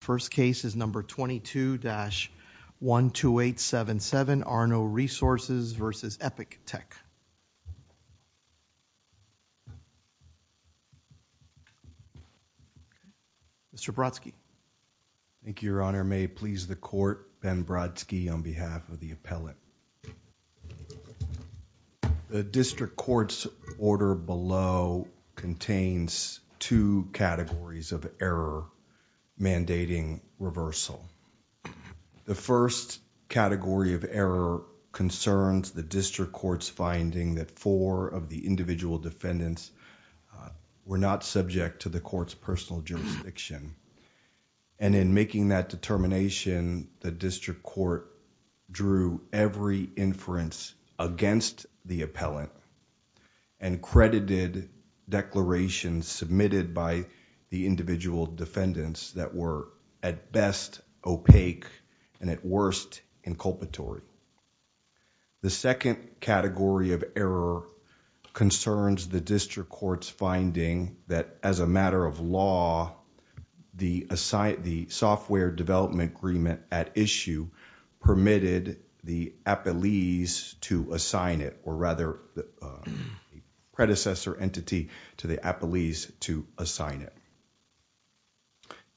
First case is number 22-12877, Arno Resources v. Epic Tech. Mr. Brodsky. Thank you, Your Honor. May it please the court, Ben Brodsky on behalf of the appellate. The district court's order below contains two categories of error mandating reversal. The first category of error concerns the district court's finding that four of the individual defendants were not subject to the court's personal jurisdiction. And in making that determination, the district court drew every inference against the appellant and credited declarations submitted by the individual defendants that were at best opaque and at worst inculpatory. The second category of error concerns the district court's finding that as a matter of law, the software development agreement at issue permitted the appellees to assign it or rather the predecessor entity to the appellees to assign it.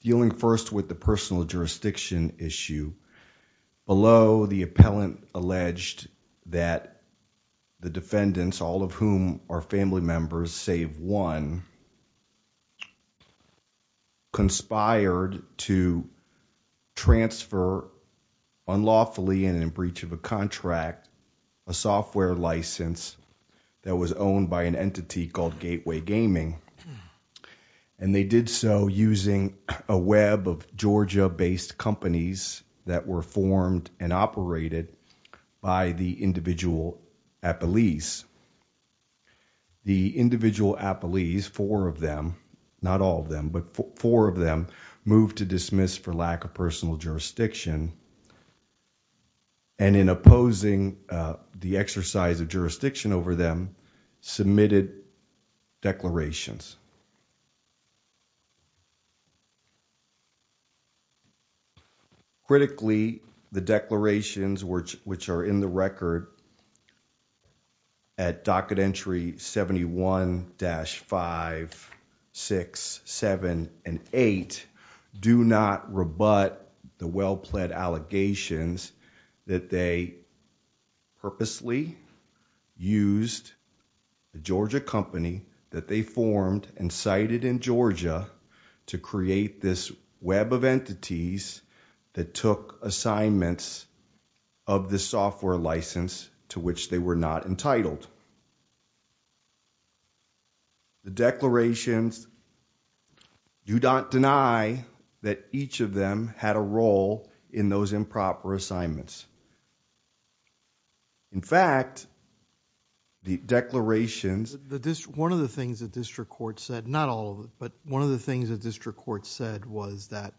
Dealing first with the personal jurisdiction issue, below the appellant alleged that the defendants, all of whom are family members save one, conspired to transfer unlawfully and in breach of a contract a software license that was owned by an entity called Gateway Gaming. And they did so using a web of Georgia-based companies that were formed and operated by the individual appellees. The individual appellees, four of them, not all of them, but four of them, moved to dismiss for lack of personal jurisdiction. And in opposing the exercise of jurisdiction over them, submitted declarations. Critically, the declarations which are in the record at docket entry 71-5678 do not rebut the well-pled allegations that they purposely used the Georgia company that they formed and sited in Georgia to create this web of entities that took assignments of the software license to which they were not entitled. The declarations do not deny that each of them had a role in those improper assignments. In fact, the declarations... One of the things the district court said, not all of it, but one of the things the district court said was that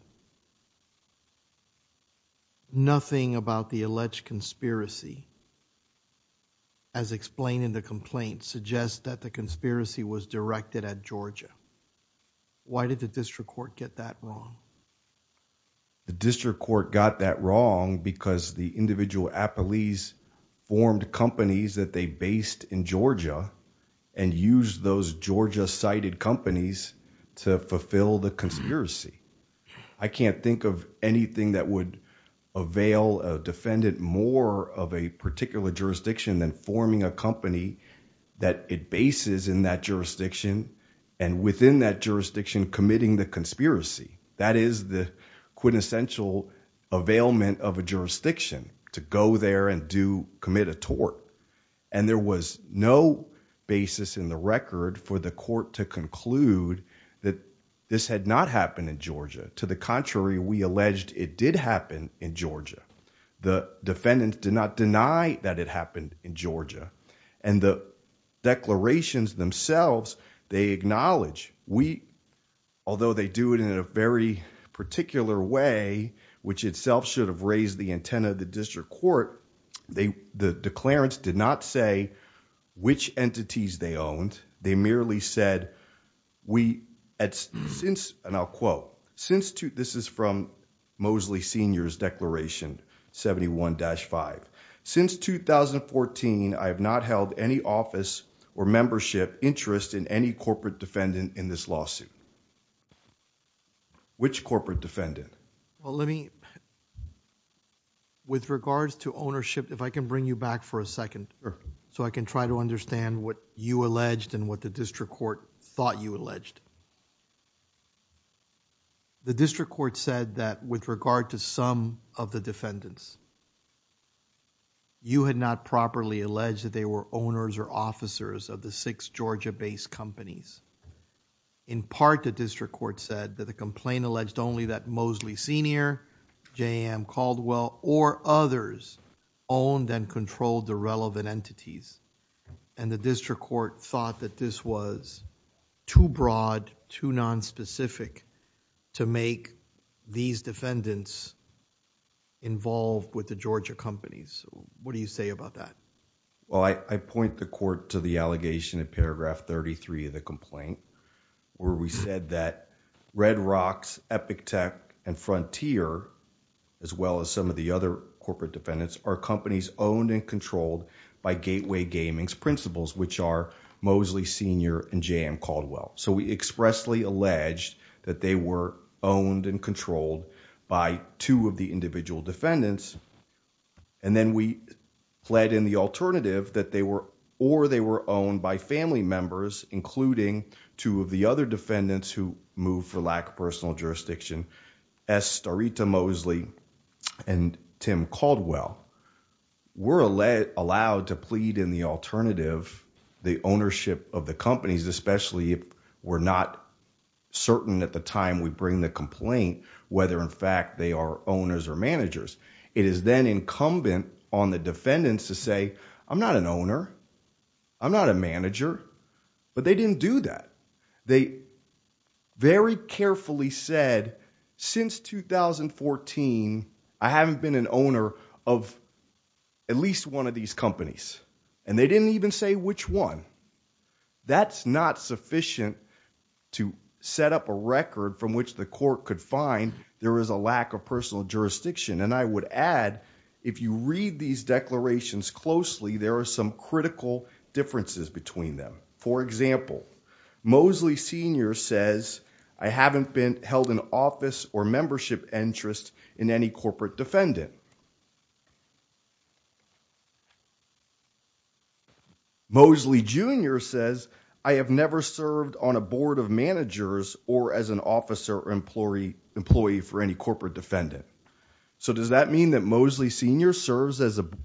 nothing about the alleged conspiracy as explained in the complaint suggests that the conspiracy was directed at Georgia. Why did the district court get that wrong? The district court got that wrong because the individual appellees formed companies that they based in Georgia and used those Georgia-sited companies to fulfill the conspiracy. I can't think of anything that would avail a defendant more of a particular jurisdiction than forming a company that it bases in that jurisdiction and within that jurisdiction committing the conspiracy. That is the quintessential availment of a jurisdiction to go there and commit a tort. There was no basis in the record for the court to conclude that this had not happened in Georgia. To the contrary, we alleged it did happen in Georgia. The defendants did not deny that it happened in Georgia. The declarations themselves, they acknowledge, although they do it in a very particular way, which itself should have raised the antenna of the district court, the declarants did not say which entities they owned. They merely said, and I'll quote, this is from Mosley Sr.'s declaration 71-5. Since 2014, I have not held any office or membership interest in any corporate defendant in this lawsuit. Which corporate defendant? Well, let me... with regards to ownership, if I can bring you back for a second so I can try to understand what you alleged and what the district court thought you alleged. The district court said that with regard to some of the defendants, you had not properly alleged that they were owners or officers of the six Georgia-based companies. In part, the district court said that the complaint alleged only that Mosley Sr., J.M. Caldwell, or others owned and controlled the relevant entities. And the district court thought that this was too broad, too nonspecific to make these defendants involved with the Georgia companies. What do you say about that? Well, I point the court to the allegation in paragraph 33 of the complaint where we said that Red Rocks, Epic Tech, and Frontier, as well as some of the other corporate defendants, are companies owned and controlled by Gateway Gaming's principals, which are Mosley Sr. and J.M. Caldwell. So we expressly alleged that they were owned and controlled by two of the individual defendants. And then we fled in the alternative that they were... or they were owned by family members, including two of the other defendants who moved for lack of personal jurisdiction, S. Starita Mosley and Tim Caldwell. We're allowed to plead in the alternative the ownership of the companies, especially if we're not certain at the time we bring the complaint whether, in fact, they are owners or managers. It is then incumbent on the defendants to say, I'm not an owner. I'm not a manager. But they didn't do that. They very carefully said, since 2014, I haven't been an owner of at least one of these companies. And they didn't even say which one. That's not sufficient to set up a record from which the court could find there is a lack of personal jurisdiction. And I would add, if you read these declarations closely, there are some critical differences between them. For example, Mosley Sr. says, I haven't been held in office or membership interest in any corporate defendant. Mosley Jr. says, I have never served on a board of managers or as an officer or employee for any corporate defendant. So does that mean that Mosley Sr. serves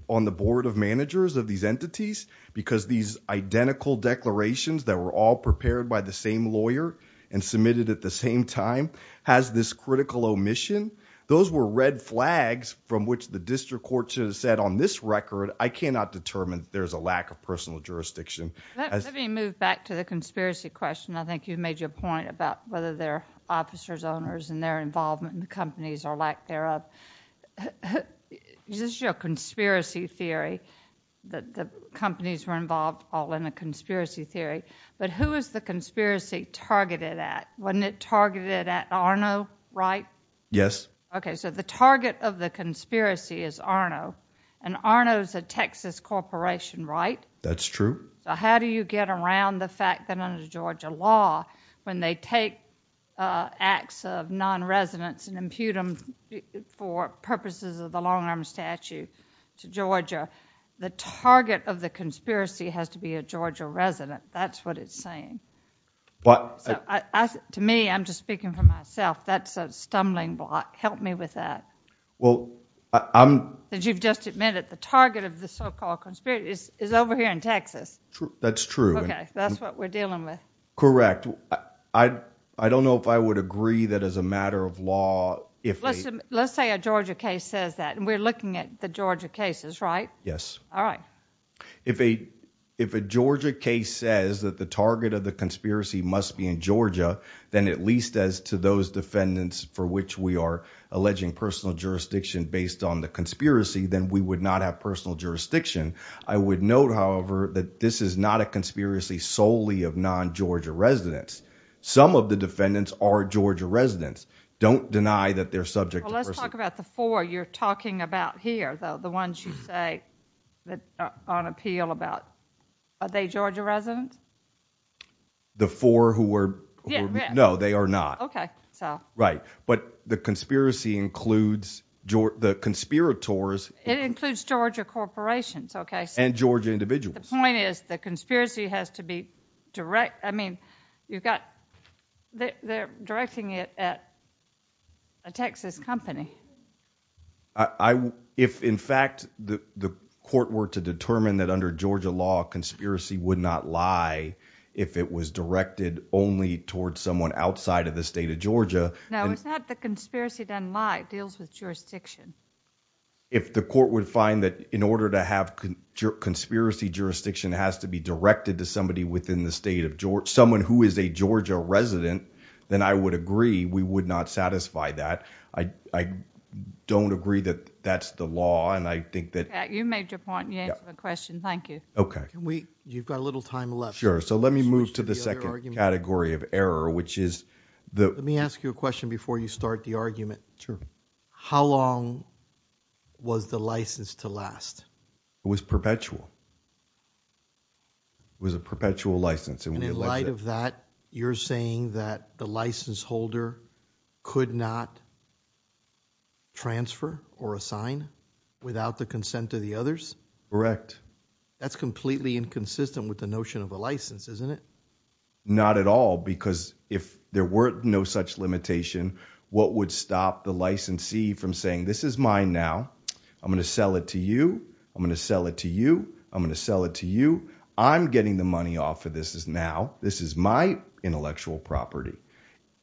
on the board of managers of these entities? Because these identical declarations that were all prepared by the same lawyer and submitted at the same time has this critical omission? Those were red flags from which the district court should have said, on this record, I cannot determine there is a lack of personal jurisdiction. Let me move back to the conspiracy question. I think you made your point about whether they're officers, owners, and their involvement in the companies or lack thereof. This is your conspiracy theory, that the companies were involved all in a conspiracy theory. But who is the conspiracy targeted at? Wasn't it targeted at Arno, right? Yes. Okay, so the target of the conspiracy is Arno. And Arno is a Texas corporation, right? That's true. How do you get around the fact that under Georgia law, when they take acts of non-residence and impute them for purposes of the long-arm statute to Georgia, the target of the conspiracy has to be a Georgia resident. That's what it's saying. To me, I'm just speaking for myself, that's a stumbling block. Help me with that. Well, I'm... You've just admitted the target of the so-called conspiracy is over here in Texas. That's true. Okay, that's what we're dealing with. Correct. I don't know if I would agree that as a matter of law, if a... Let's say a Georgia case says that, and we're looking at the Georgia cases, right? Yes. All right. If a Georgia case says that the target of the conspiracy must be in Georgia, then at least as to those defendants for which we are alleging personal jurisdiction based on the conspiracy, then we would not have personal jurisdiction. I would note, however, that this is not a conspiracy solely of non-Georgia residents. Some of the defendants are Georgia residents. Don't deny that they're subject to personal... Well, let's talk about the four you're talking about here, though, the ones you say that are on appeal about. Are they Georgia residents? The four who were... Yeah, yeah. No, they are not. Okay, so... Right. But the conspiracy includes the conspirators... It includes Georgia corporations, okay? And Georgia individuals. The point is the conspiracy has to be direct... I mean, you've got... They're directing it at a Texas company. If, in fact, the court were to determine that under Georgia law, conspiracy would not lie if it was directed only towards someone outside of the state of Georgia... No, it's not that conspiracy doesn't lie. It deals with jurisdiction. If the court would find that in order to have conspiracy jurisdiction, it has to be directed to somebody within the state of Georgia, someone who is a Georgia resident, then I would agree we would not satisfy that. I don't agree that that's the law, and I think that... You made your point, and you answered the question. Thank you. Okay. You've got a little time left. Sure. So let me move to the second category of error, which is the... Let me ask you a question before you start the argument. Sure. How long was the license to last? It was perpetual. It was a perpetual license. And in light of that, you're saying that the license holder could not transfer or assign without the consent of the others? Correct. That's completely inconsistent with the notion of a license, isn't it? Not at all, because if there were no such limitation, what would stop the licensee from saying, This is mine now. I'm going to sell it to you. I'm going to sell it to you. I'm going to sell it to you. I'm getting the money off of this now. This is my intellectual property.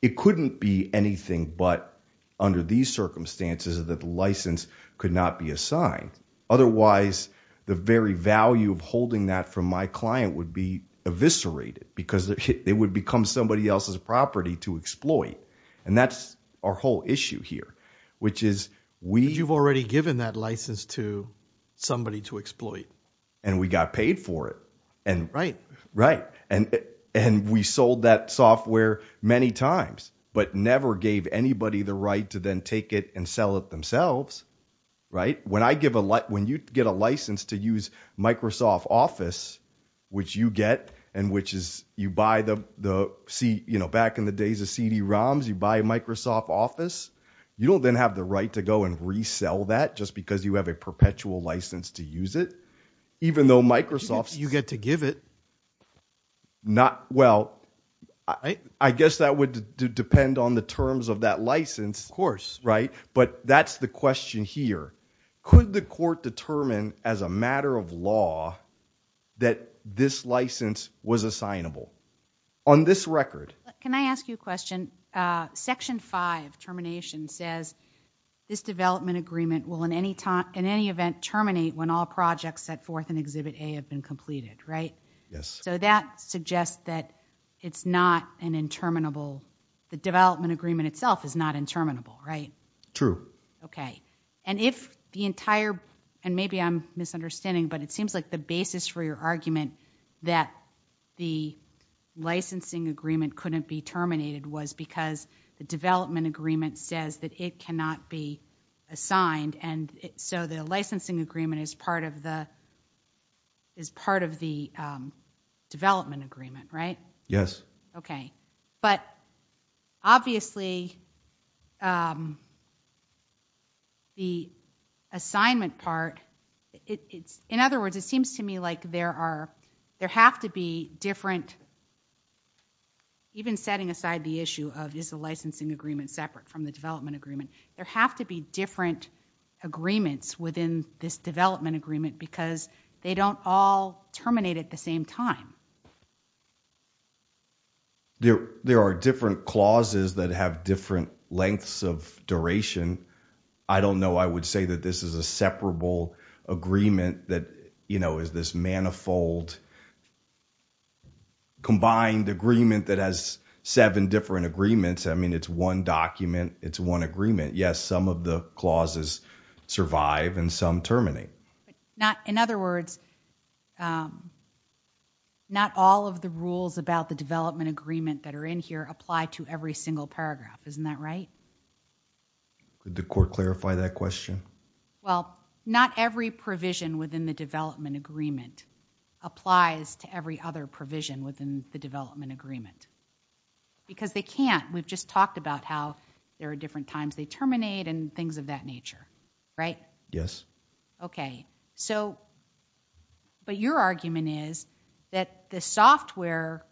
It couldn't be anything but, under these circumstances, that the license could not be assigned. Otherwise, the very value of holding that from my client would be eviscerated because it would become somebody else's property to exploit. And that's our whole issue here, which is we... But you've already given that license to somebody to exploit. And we got paid for it. Right. Right. And we sold that software many times, but never gave anybody the right to then take it and sell it themselves. When you get a license to use Microsoft Office, which you get and which is you buy the... Back in the days of CD-ROMs, you buy Microsoft Office. You don't then have the right to go and resell that just because you have a perpetual license to use it, even though Microsoft... You get to give it. Well, I guess that would depend on the terms of that license. Of course. Right? But that's the question here. Could the court determine, as a matter of law, that this license was assignable? On this record. Can I ask you a question? Section 5, termination, says this development agreement will in any event terminate when all projects set forth in Exhibit A have been completed, right? Yes. So that suggests that it's not an interminable... The development agreement itself is not interminable, right? True. Okay. And if the entire... And maybe I'm misunderstanding, but it seems like the basis for your argument that the licensing agreement couldn't be terminated was because the development agreement says that it cannot be assigned, and so the licensing agreement is part of the development agreement, right? Yes. Okay. But, obviously, the assignment part... In other words, it seems to me like there have to be different... Even setting aside the issue of, is the licensing agreement separate from the development agreement, there have to be different agreements within this development agreement because they don't all terminate at the same time. There are different clauses that have different lengths of duration. I don't know. I would say that this is a separable agreement that is this manifold combined agreement that has seven different agreements. I mean, it's one document. It's one agreement. Yes, some of the clauses survive and some terminate. In other words, not all of the rules about the development agreement that are in here apply to every single paragraph. Isn't that right? Could the court clarify that question? Well, not every provision within the development agreement applies to every other provision within the development agreement because they can't. We've just talked about how there are different times they terminate and things of that nature, right? Yes. Okay. So, but your argument is that the software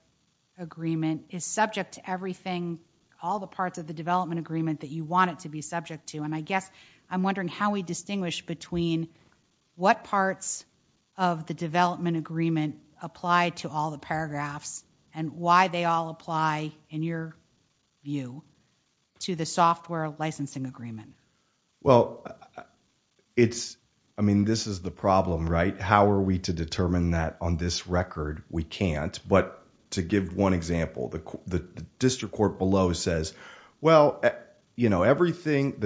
agreement is subject to everything, all the parts of the development agreement that you want it to be subject to. And I guess I'm wondering how we distinguish between what parts of the development agreement apply to all the paragraphs and why they all apply in your view to the software licensing agreement. Well, I mean, this is the problem, right? How are we to determine that on this record? We can't. But to give one example, the district court below says, well, the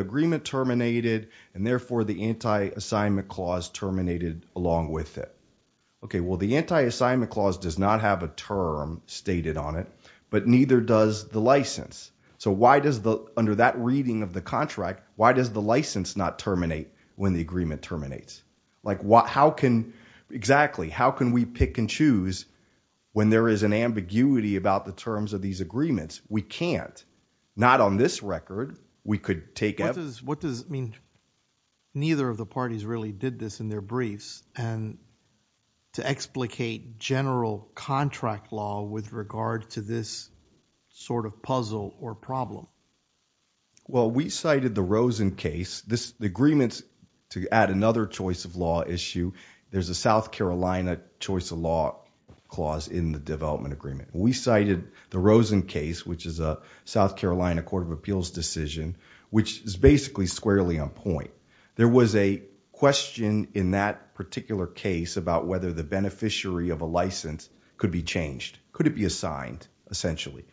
agreement terminated and therefore the anti-assignment clause terminated along with it. Okay, well, the anti-assignment clause does not have a term stated on it, but neither does the license. So why does the, under that reading of the contract, why does the license not terminate when the agreement terminates? Like, how can, exactly, how can we pick and choose when there is an ambiguity about the terms of these agreements? We can't. Not on this record, we could take out. What does it mean, neither of the parties really did this in their briefs and to explicate general contract law with regard to this sort of puzzle or problem? Well, we cited the Rosen case. The agreements, to add another choice of law issue, there's a South Carolina choice of law clause in the development agreement. We cited the Rosen case, which is a South Carolina Court of Appeals decision, which is basically squarely on point. There was a question in that particular case about whether the beneficiary of a license could be changed. Could it be assigned, essentially?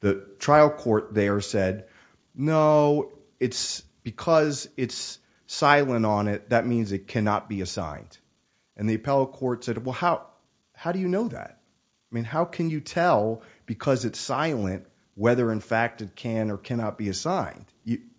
The trial court there said, no, it's because it's silent on it, that means it cannot be assigned. And the appellate court said, well, how do you know that? I mean, how can you tell because it's silent whether, in fact, it can or cannot be assigned?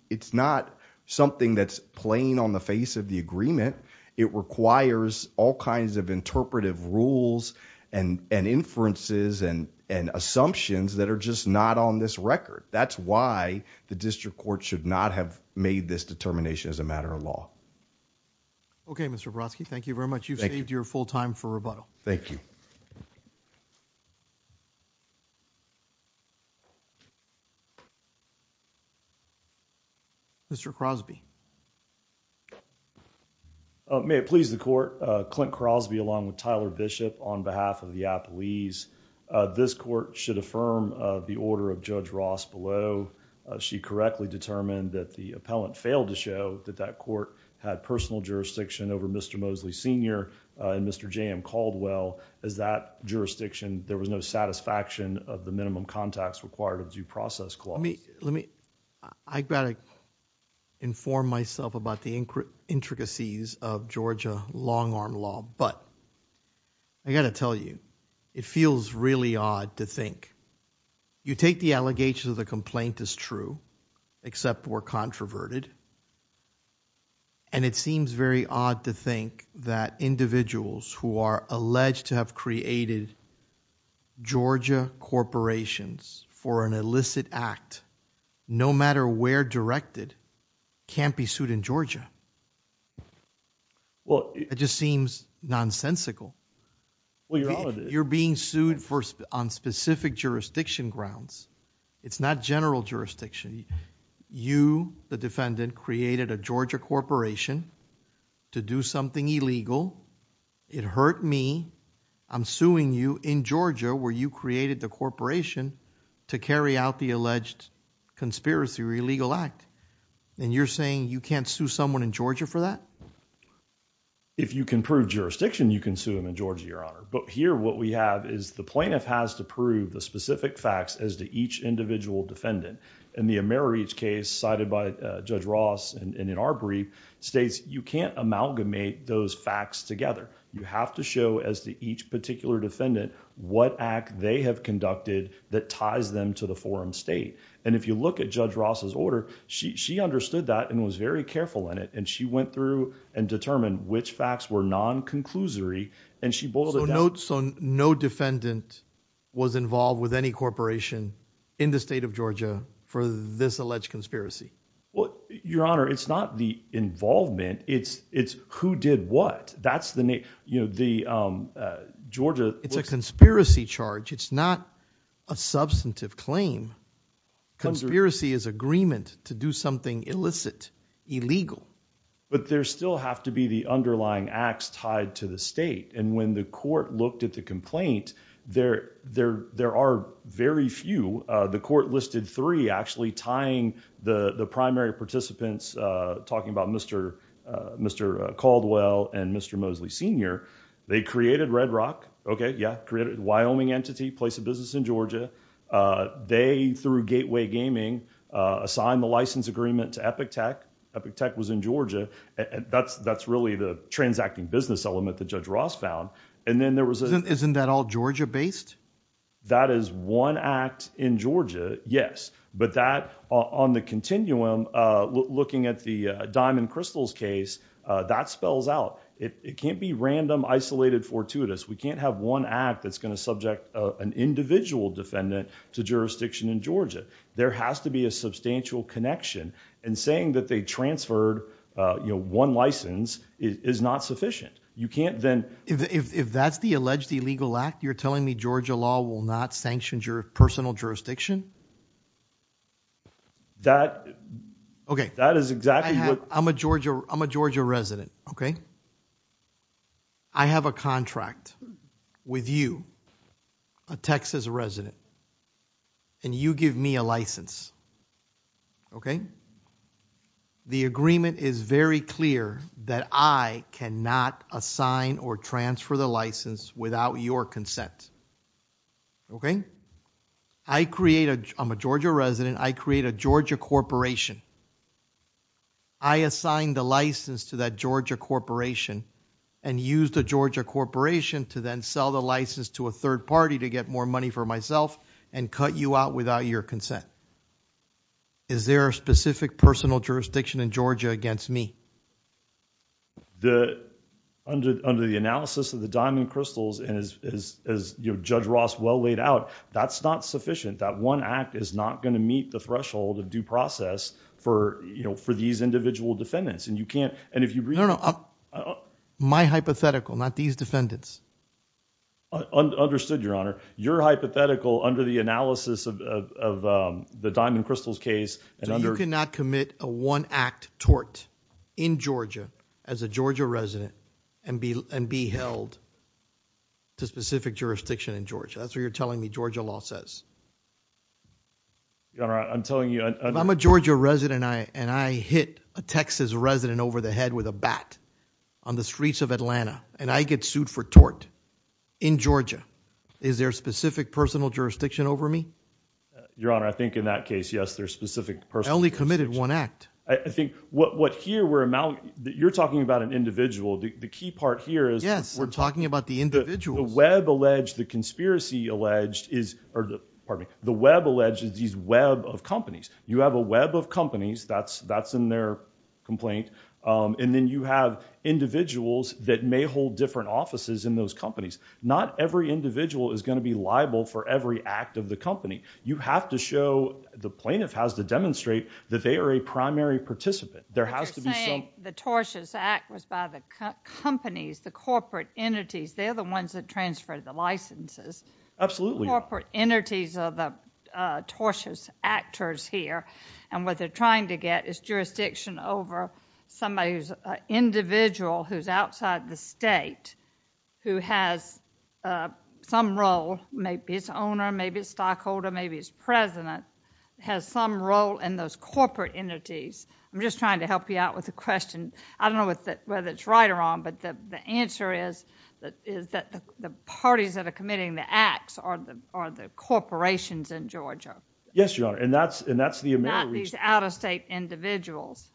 It's not something that's plain on the face of the agreement. It requires all kinds of interpretive rules and inferences and assumptions that are just not on this record. That's why the district court should not have made this determination as a matter of law. Okay, Mr. Brodsky, thank you very much. You've saved your full time for rebuttal. Thank you. Mr. Crosby. May it please the court, Clint Crosby along with Tyler Bishop on behalf of the appellees. This court should affirm the order of Judge Ross below. She correctly determined that the appellant failed to show that that court had personal jurisdiction over Mr. Mosley Sr. and Mr. J.M. Caldwell. As that jurisdiction, there was no satisfaction of the minimum contacts required of due process clause. Let me, I've got to inform myself about the intricacies of Georgia long-arm law, but I got to tell you, it feels really odd to think. You take the allegations of the complaint as true, except we're controverted, and it seems very odd to think that individuals who are alleged to have created Georgia corporations for an illicit act, no matter where directed, can't be sued in Georgia. It just seems nonsensical. You're being sued on specific jurisdiction grounds. It's not general jurisdiction. You, the defendant, created a Georgia corporation to do something illegal. It hurt me. I'm suing you in Georgia where you created the corporation to carry out the alleged conspiracy or illegal act, and you're saying you can't sue someone in Georgia for that? If you can prove jurisdiction, you can sue them in Georgia, Your Honor, but here what we have is the plaintiff has to prove the specific facts as to each individual defendant. In the AmeriReach case cited by Judge Ross, and in our brief, states you can't amalgamate those facts together. You have to show as to each particular defendant what act they have conducted that ties them to the forum state, and if you look at Judge Ross's order, she understood that and was very careful in it, and she went through and determined which facts were non-conclusory, and she bulleted down. So no defendant was involved with any corporation in the state of Georgia for this alleged conspiracy? Well, Your Honor, it's not the involvement. It's who did what. That's the name. It's a conspiracy charge. It's not a substantive claim. Conspiracy is agreement to do something illicit, illegal. But there still have to be the underlying acts tied to the state, and when the court looked at the complaint, there are very few. The court listed three actually tying the primary participants, talking about Mr. Caldwell and Mr. Mosley Sr. They created Red Rock, okay, yeah, created a Wyoming entity, place of business in Georgia. They, through Gateway Gaming, assigned the license agreement to Epic Tech. Epic Tech was in Georgia. That's really the transacting business element that Judge Ross found, and then there was a... Isn't that all Georgia-based? That is one act in Georgia, yes, but that, on the continuum, looking at the Diamond Crystals case, that spells out. It can't be random, isolated, fortuitous. We can't have one act that's going to subject an individual defendant to jurisdiction in Georgia. There has to be a substantial connection, and saying that they transferred, you know, one license is not sufficient. You can't then... If that's the alleged illegal act, you're telling me Georgia law will not sanction your personal jurisdiction? That... Okay. That is exactly what... I'm a Georgia resident, okay? I have a contract with you, a Texas resident, and you give me a license, okay? The agreement is very clear that I cannot assign or transfer the license without your consent, okay? I create a... I'm a Georgia resident. I create a Georgia corporation. I assign the license to that Georgia corporation and use the Georgia corporation to then sell the license to a third party to get more money for myself and cut you out without your consent. Is there a specific personal jurisdiction in Georgia against me? The... Under the analysis of the Diamond Crystals, and as Judge Ross well laid out, that's not sufficient. That one act is not going to meet the threshold of due process for, you know, for these individual defendants, and you can't... And if you... No, no. My hypothetical, not these defendants. Understood, Your Honor. Your hypothetical, under the analysis of the Diamond Crystals case... You cannot commit a one-act tort in Georgia as a Georgia resident and be held to specific jurisdiction in Georgia. That's what you're telling me Georgia law says. Your Honor, I'm telling you... I'm a Georgia resident, and I hit a Texas resident over the head with a bat on the streets of Atlanta, and I get sued for tort in Georgia. Is there a specific personal jurisdiction over me? Your Honor, I think in that case, yes, there's a specific personal jurisdiction. I only committed one act. I think what here we're... You're talking about an individual. The key part here is... Yes. We're talking about the individuals. The web alleged, the conspiracy alleged is... Pardon me. The web alleged is these web of companies. You have a web of companies. That's in their complaint, and then you have individuals that may hold different offices in those companies. Not every individual is going to be liable for every act of the company. You have to show... The plaintiff has to demonstrate that they are a primary participant. There has to be some... But you're saying the tortious act was by the companies, the corporate entities. They're the ones that transfer the licenses. Absolutely. Corporate entities are the tortious actors here, and what they're trying to get is jurisdiction over somebody who's an individual who's outside the state, who has some role. Maybe it's owner. Maybe it's stockholder. Maybe it's president. Has some role in those corporate entities. I'm just trying to help you out with the question. I don't know whether it's right or wrong, but the answer is that the parties that are committing the acts are the corporations in Georgia. Yes, Your Honor, and that's the American... Not these out-of-state individuals.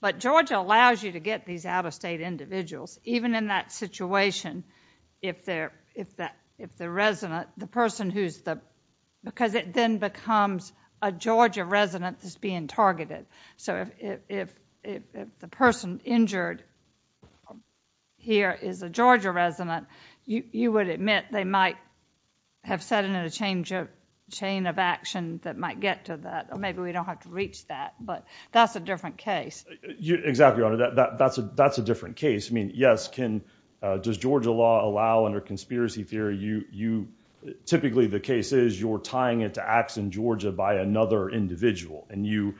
But Georgia allows you to get these out-of-state individuals, even in that situation, if the resident, the person who's the... Because it then becomes a Georgia resident that's being targeted. So if the person injured here is a Georgia resident, you would admit they might have set in a chain of action that might get to that. Or maybe we don't have to reach that, but that's a different case. Exactly, Your Honor. That's a different case. I mean, yes, does Georgia law allow, under conspiracy theory, typically the case is you're tying into acts in Georgia by another individual. And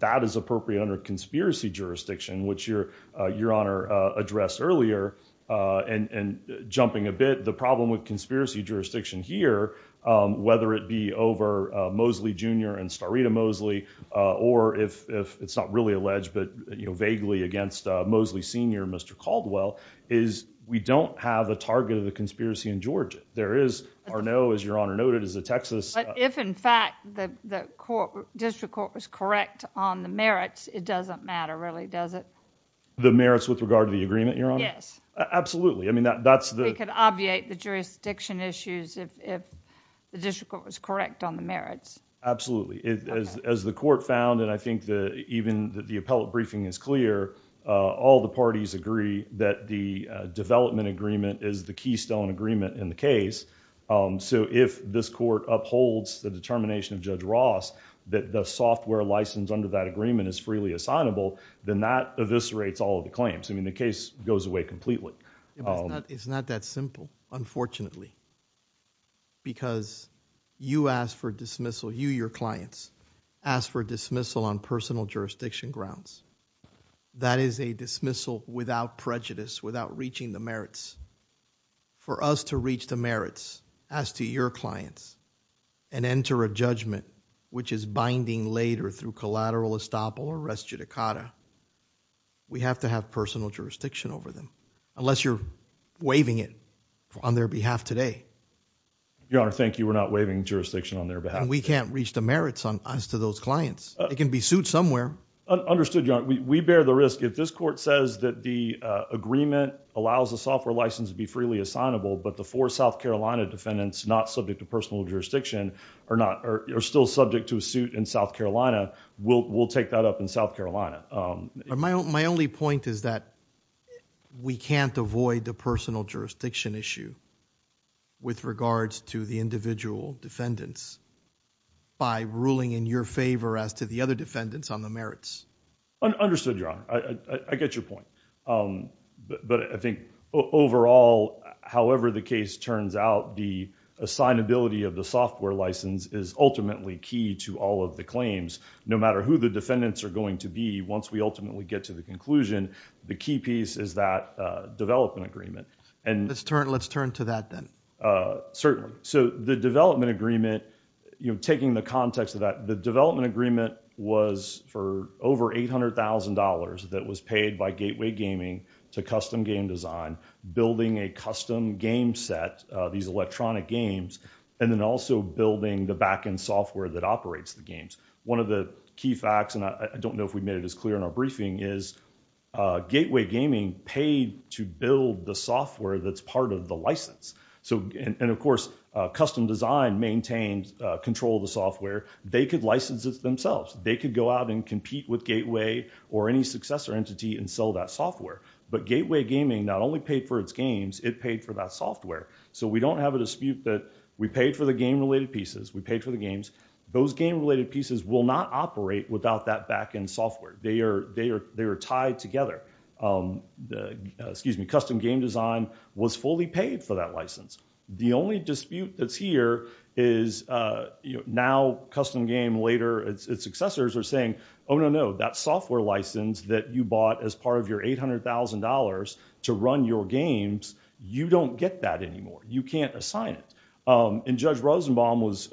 that is appropriate under conspiracy jurisdiction, which Your Honor addressed earlier. And jumping a bit, the problem with conspiracy jurisdiction here, whether it be over Mosley Jr. and Starita Mosley, or if it's not really alleged, but vaguely against Mosley Sr., Mr. Caldwell, is we don't have a target of a conspiracy in Georgia. There is Arnault, as Your Honor noted, is a Texas... But if, in fact, the district court was correct on the merits, it doesn't matter, really, does it? The merits with regard to the agreement, Your Honor? Yes. Absolutely. We could obviate the jurisdiction issues if the district court was correct on the merits. Absolutely. As the court found, and I think even the appellate briefing is clear, all the parties agree that the development agreement is the keystone agreement in the case. So if this court upholds the determination of Judge Ross that the software license under that agreement is freely assignable, then that eviscerates all of the claims. I mean, the case goes away completely. It's not that simple, unfortunately, because you ask for dismissal, you, your clients, ask for dismissal on personal jurisdiction grounds. That is a dismissal without prejudice, without reaching the merits. For us to reach the merits as to your clients and enter a judgment which is binding later through collateral estoppel or res judicata, we have to have personal jurisdiction over them, unless you're waiving it on their behalf today. Your Honor, thank you. We're not waiving jurisdiction on their behalf. And we can't reach the merits on us to those clients. It can be sued somewhere. Understood, Your Honor. We bear the risk. If this court says that the agreement allows the software license to be freely assignable, but the four South Carolina defendants not subject to personal jurisdiction are still subject to a suit in South Carolina, we'll take that up in South Carolina. My only point is that we can't avoid the personal jurisdiction issue with regards to the individual defendants by ruling in your favor as to the other defendants on the merits. Understood, Your Honor. I get your point. But I think overall, however the case turns out, the assignability of the software license is ultimately key to all of the claims. No matter who the defendants are going to be, once we ultimately get to the conclusion, the key piece is that development agreement. Let's turn to that then. Certainly. So the development agreement, taking the context of that, the development agreement was for over $800,000 that was paid by Gateway Gaming to Custom Game Design, building a custom game set, these electronic games, and then also building the backend software that operates the games. One of the key facts, and I don't know if we made it as clear in our briefing, is Gateway Gaming paid to build the software that's part of the license. And of course, Custom Design maintained control of the software. They could license it themselves. They could go out and compete with Gateway or any successor entity and sell that software. But Gateway Gaming not only paid for its games, it paid for that software. So we don't have a dispute that we paid for the game-related pieces, we paid for the games. Those game-related pieces will not operate without that backend software. They are tied together. Excuse me, Custom Game Design was fully paid for that license. The only dispute that's here is now Custom Game later, its successors are saying, oh, no, no, that software license that you bought as part of your $800,000 to run your games, you don't get that anymore. You can't assign it. And Judge Rosenbaum was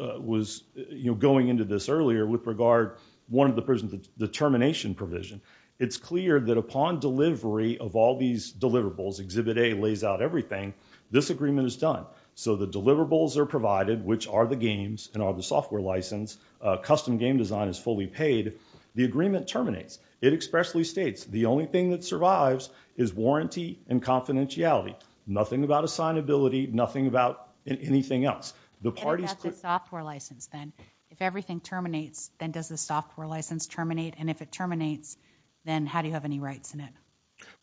going into this earlier with regard to the termination provision. It's clear that upon delivery of all these deliverables, Exhibit A lays out everything, this agreement is done. So the deliverables are provided, which are the games, and are the software license. Custom Game Design is fully paid. The agreement terminates. It expressly states, the only thing that survives is warranty and confidentiality. Nothing about assignability, nothing about anything else. The parties... What about the software license then? If everything terminates, then does the software license terminate? And if it terminates, then how do you have any rights in it?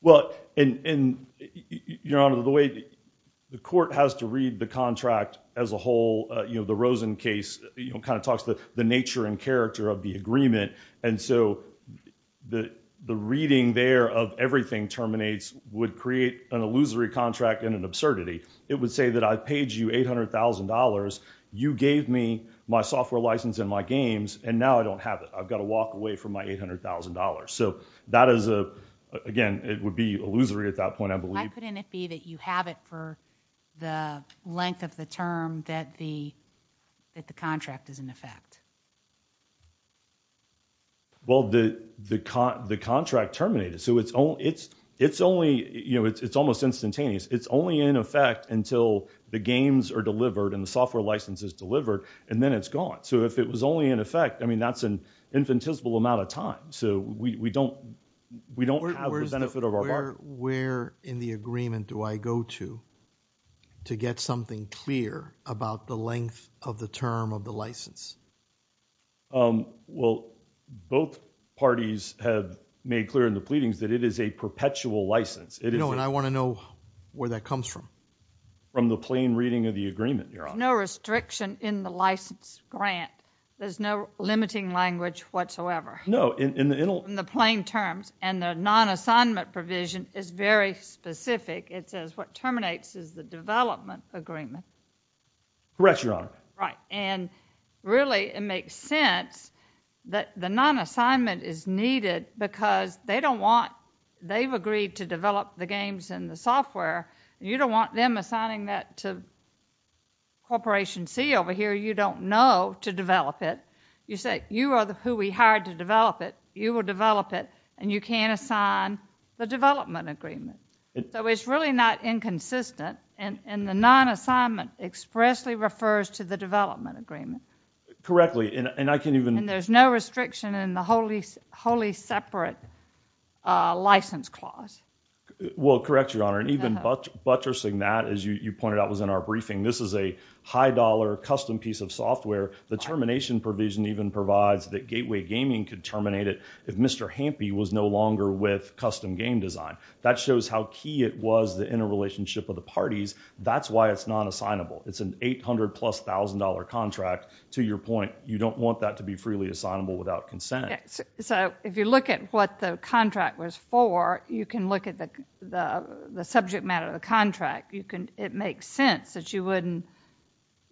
Well, and Your Honor, the court has to read the contract as a whole. The Rosen case kind of talks the nature and character of the agreement. And so the reading there of everything terminates would create an illusory contract and an absurdity. It would say that I paid you $800,000, you gave me my software license and my games, and now I don't have it. I've got to walk away from my $800,000. So that is, again, it would be illusory at that point, I believe. Why couldn't it be that you have it for the length of the term that the contract is in effect? Well, the contract terminated. So it's almost instantaneous. It's only in effect until the games are delivered and the software license is delivered, and then it's gone. So if it was only in effect, I mean, that's an infinitesimal amount of time. So we don't have the benefit of our bargain. Where in the agreement do I go to to get something clear about the length of the term of the license? Well, both parties have made clear in the pleadings that it is a perpetual license. No, and I want to know where that comes from. From the plain reading of the agreement, Your Honor. There's no restriction in the license grant. There's no limiting language whatsoever. No, in the... In the plain terms. And the non-assignment provision is very specific. It says what terminates is the development agreement. Correct, Your Honor. Right, and really it makes sense that the non-assignment is needed because they don't want... They've agreed to develop the games and the software. You don't want them assigning that to Corporation C over here. You don't know to develop it. You say, you are who we hired to develop it. You will develop it, and you can't assign the development agreement. So it's really not inconsistent, and the non-assignment expressly refers to the development agreement. Correctly, and I can even... And there's no restriction in the wholly separate license clause. Well, correct, Your Honor, and even buttressing that, as you pointed out, was in our briefing. This is a high-dollar custom piece of software. The termination provision even provides that Gateway Gaming could terminate it if Mr. Hampey was no longer with Custom Game Design. That shows how key it was, the interrelationship of the parties. That's why it's non-assignable. It's an $800,000-plus contract. To your point, you don't want that to be freely assignable without consent. So if you look at what the contract was for, you can look at the subject matter of the contract. It makes sense that you wouldn't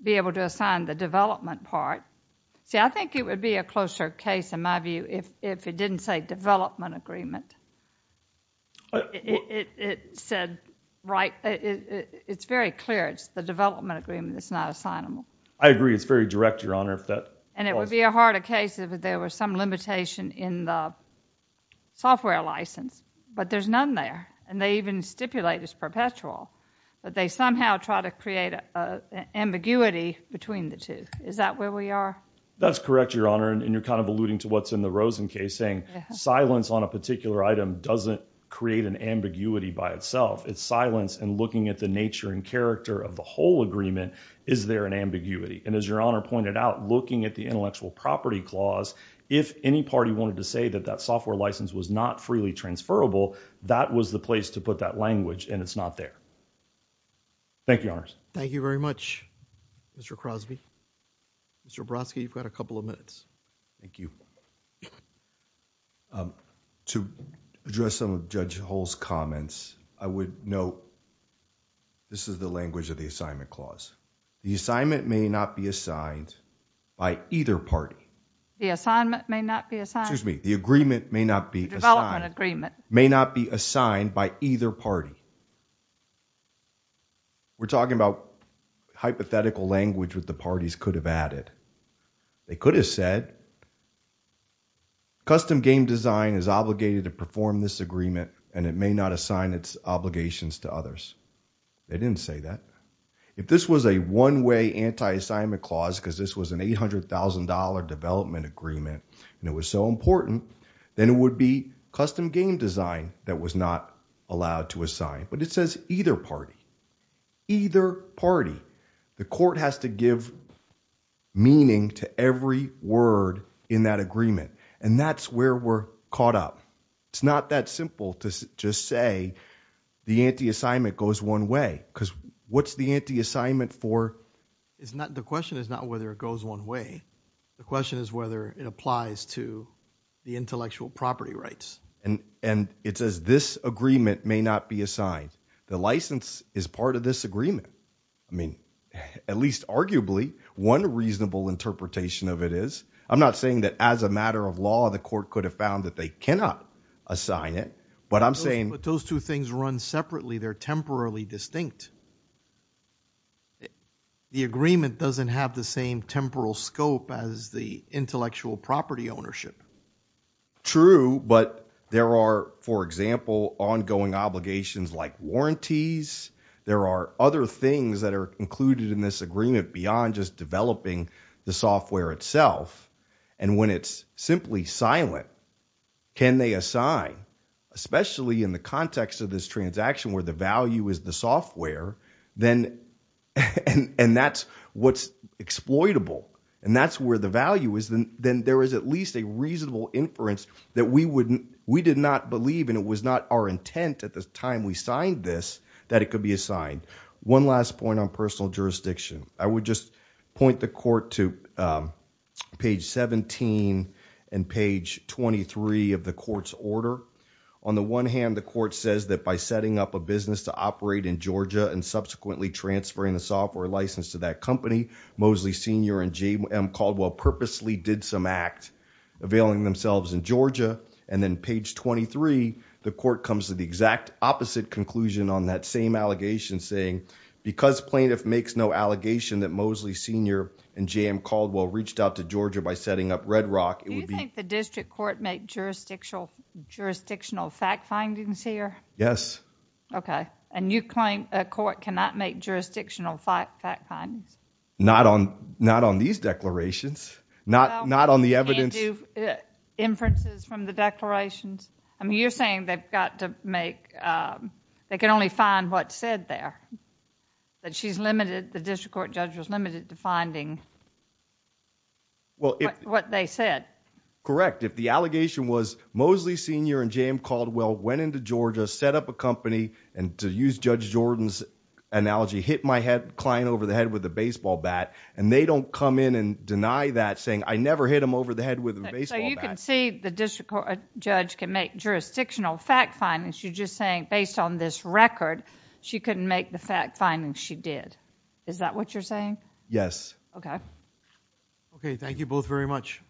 be able to assign the development part. See, I think it would be a closer case, in my view, if it didn't say development agreement. It said right... It's very clear it's the development agreement that's not assignable. I agree. It's very direct, Your Honor. And it would be a harder case if there were some limitation in the software license, but there's none there, and they even stipulate it's perpetual, but they somehow try to create an ambiguity between the two. Is that where we are? That's correct, Your Honor, and you're kind of alluding to what's in the Rosen case, saying silence on a particular item doesn't create an ambiguity by itself. It's silence and looking at the nature and character of the whole agreement. Is there an ambiguity? And as Your Honor pointed out, looking at the intellectual property clause, if any party wanted to say that that software license was not freely transferable, that was the place to put that language, and it's not there. Thank you, Your Honors. Thank you very much, Mr. Crosby. Mr. Brodsky, you've got a couple of minutes. Thank you. To address some of Judge Hull's comments, I would note this is the language of the assignment clause. The assignment may not be assigned by either party. The assignment may not be assigned? Excuse me, the agreement may not be assigned. Development agreement. May not be assigned by either party. We're talking about hypothetical language that the parties could have added. They could have said, custom game design is obligated to perform this agreement, and it may not assign its obligations to others. They didn't say that. If this was a one-way anti-assignment clause, because this was an $800,000 development agreement, and it was so important, then it would be custom game design that was not allowed to assign. But it says either party. Either party. The court has to give meaning to every word in that agreement, and that's where we're caught up. It's not that simple to just say the anti-assignment goes one way, because what's the anti-assignment for? The question is not whether it goes one way. The question is whether it applies to the intellectual property rights. And it says this agreement may not be assigned. The license is part of this agreement. I mean, at least arguably, one reasonable interpretation of it is. I'm not saying that as a matter of law, the court could have found that they cannot assign it, but I'm saying... But those two things run separately. They're temporarily distinct. The agreement doesn't have the same temporal scope as the intellectual property ownership. True, but there are, for example, ongoing obligations like warranties. There are other things that are included in this agreement beyond just developing the software itself. And when it's simply silent, can they assign? Especially in the context of this transaction where the value is the software, and that's what's exploitable, and that's where the value is, then there is at least a reasonable inference that we did not believe, and it was not our intent at the time we signed this, that it could be assigned. One last point on personal jurisdiction. I would just point the court to page 17 and page 23 of the court's order. On the one hand, the court says that by setting up a business to operate in Georgia and subsequently transferring the software license to that company, Moseley Senior and JM Caldwell purposely did some act availing themselves in Georgia, and then page 23, the court comes to the exact opposite conclusion on that same allegation saying, because plaintiff makes no allegation that Moseley Senior and JM Caldwell reached out to Georgia by setting up Red Rock, it would be... Do you think the district court made jurisdictional fact findings here? Yes. Okay, and you claim a court cannot make jurisdictional fact findings? Not on these declarations. Not on the evidence... Can't do inferences from the declarations? I mean, you're saying they've got to make... They can only find what's said there. That she's limited, the district court judge was limited to finding what they said. Correct. If the allegation was Moseley Senior and JM Caldwell went into Georgia, set up a company, and to use Judge Jordan's analogy, hit my client over the head with a baseball bat, and they don't come in and deny that saying, I never hit him over the head with a baseball bat. So you can see the district court judge can make jurisdictional fact findings. You're just saying, based on this record, she couldn't make the fact findings she did. Is that what you're saying? Yes. Okay. Okay, thank you both very much.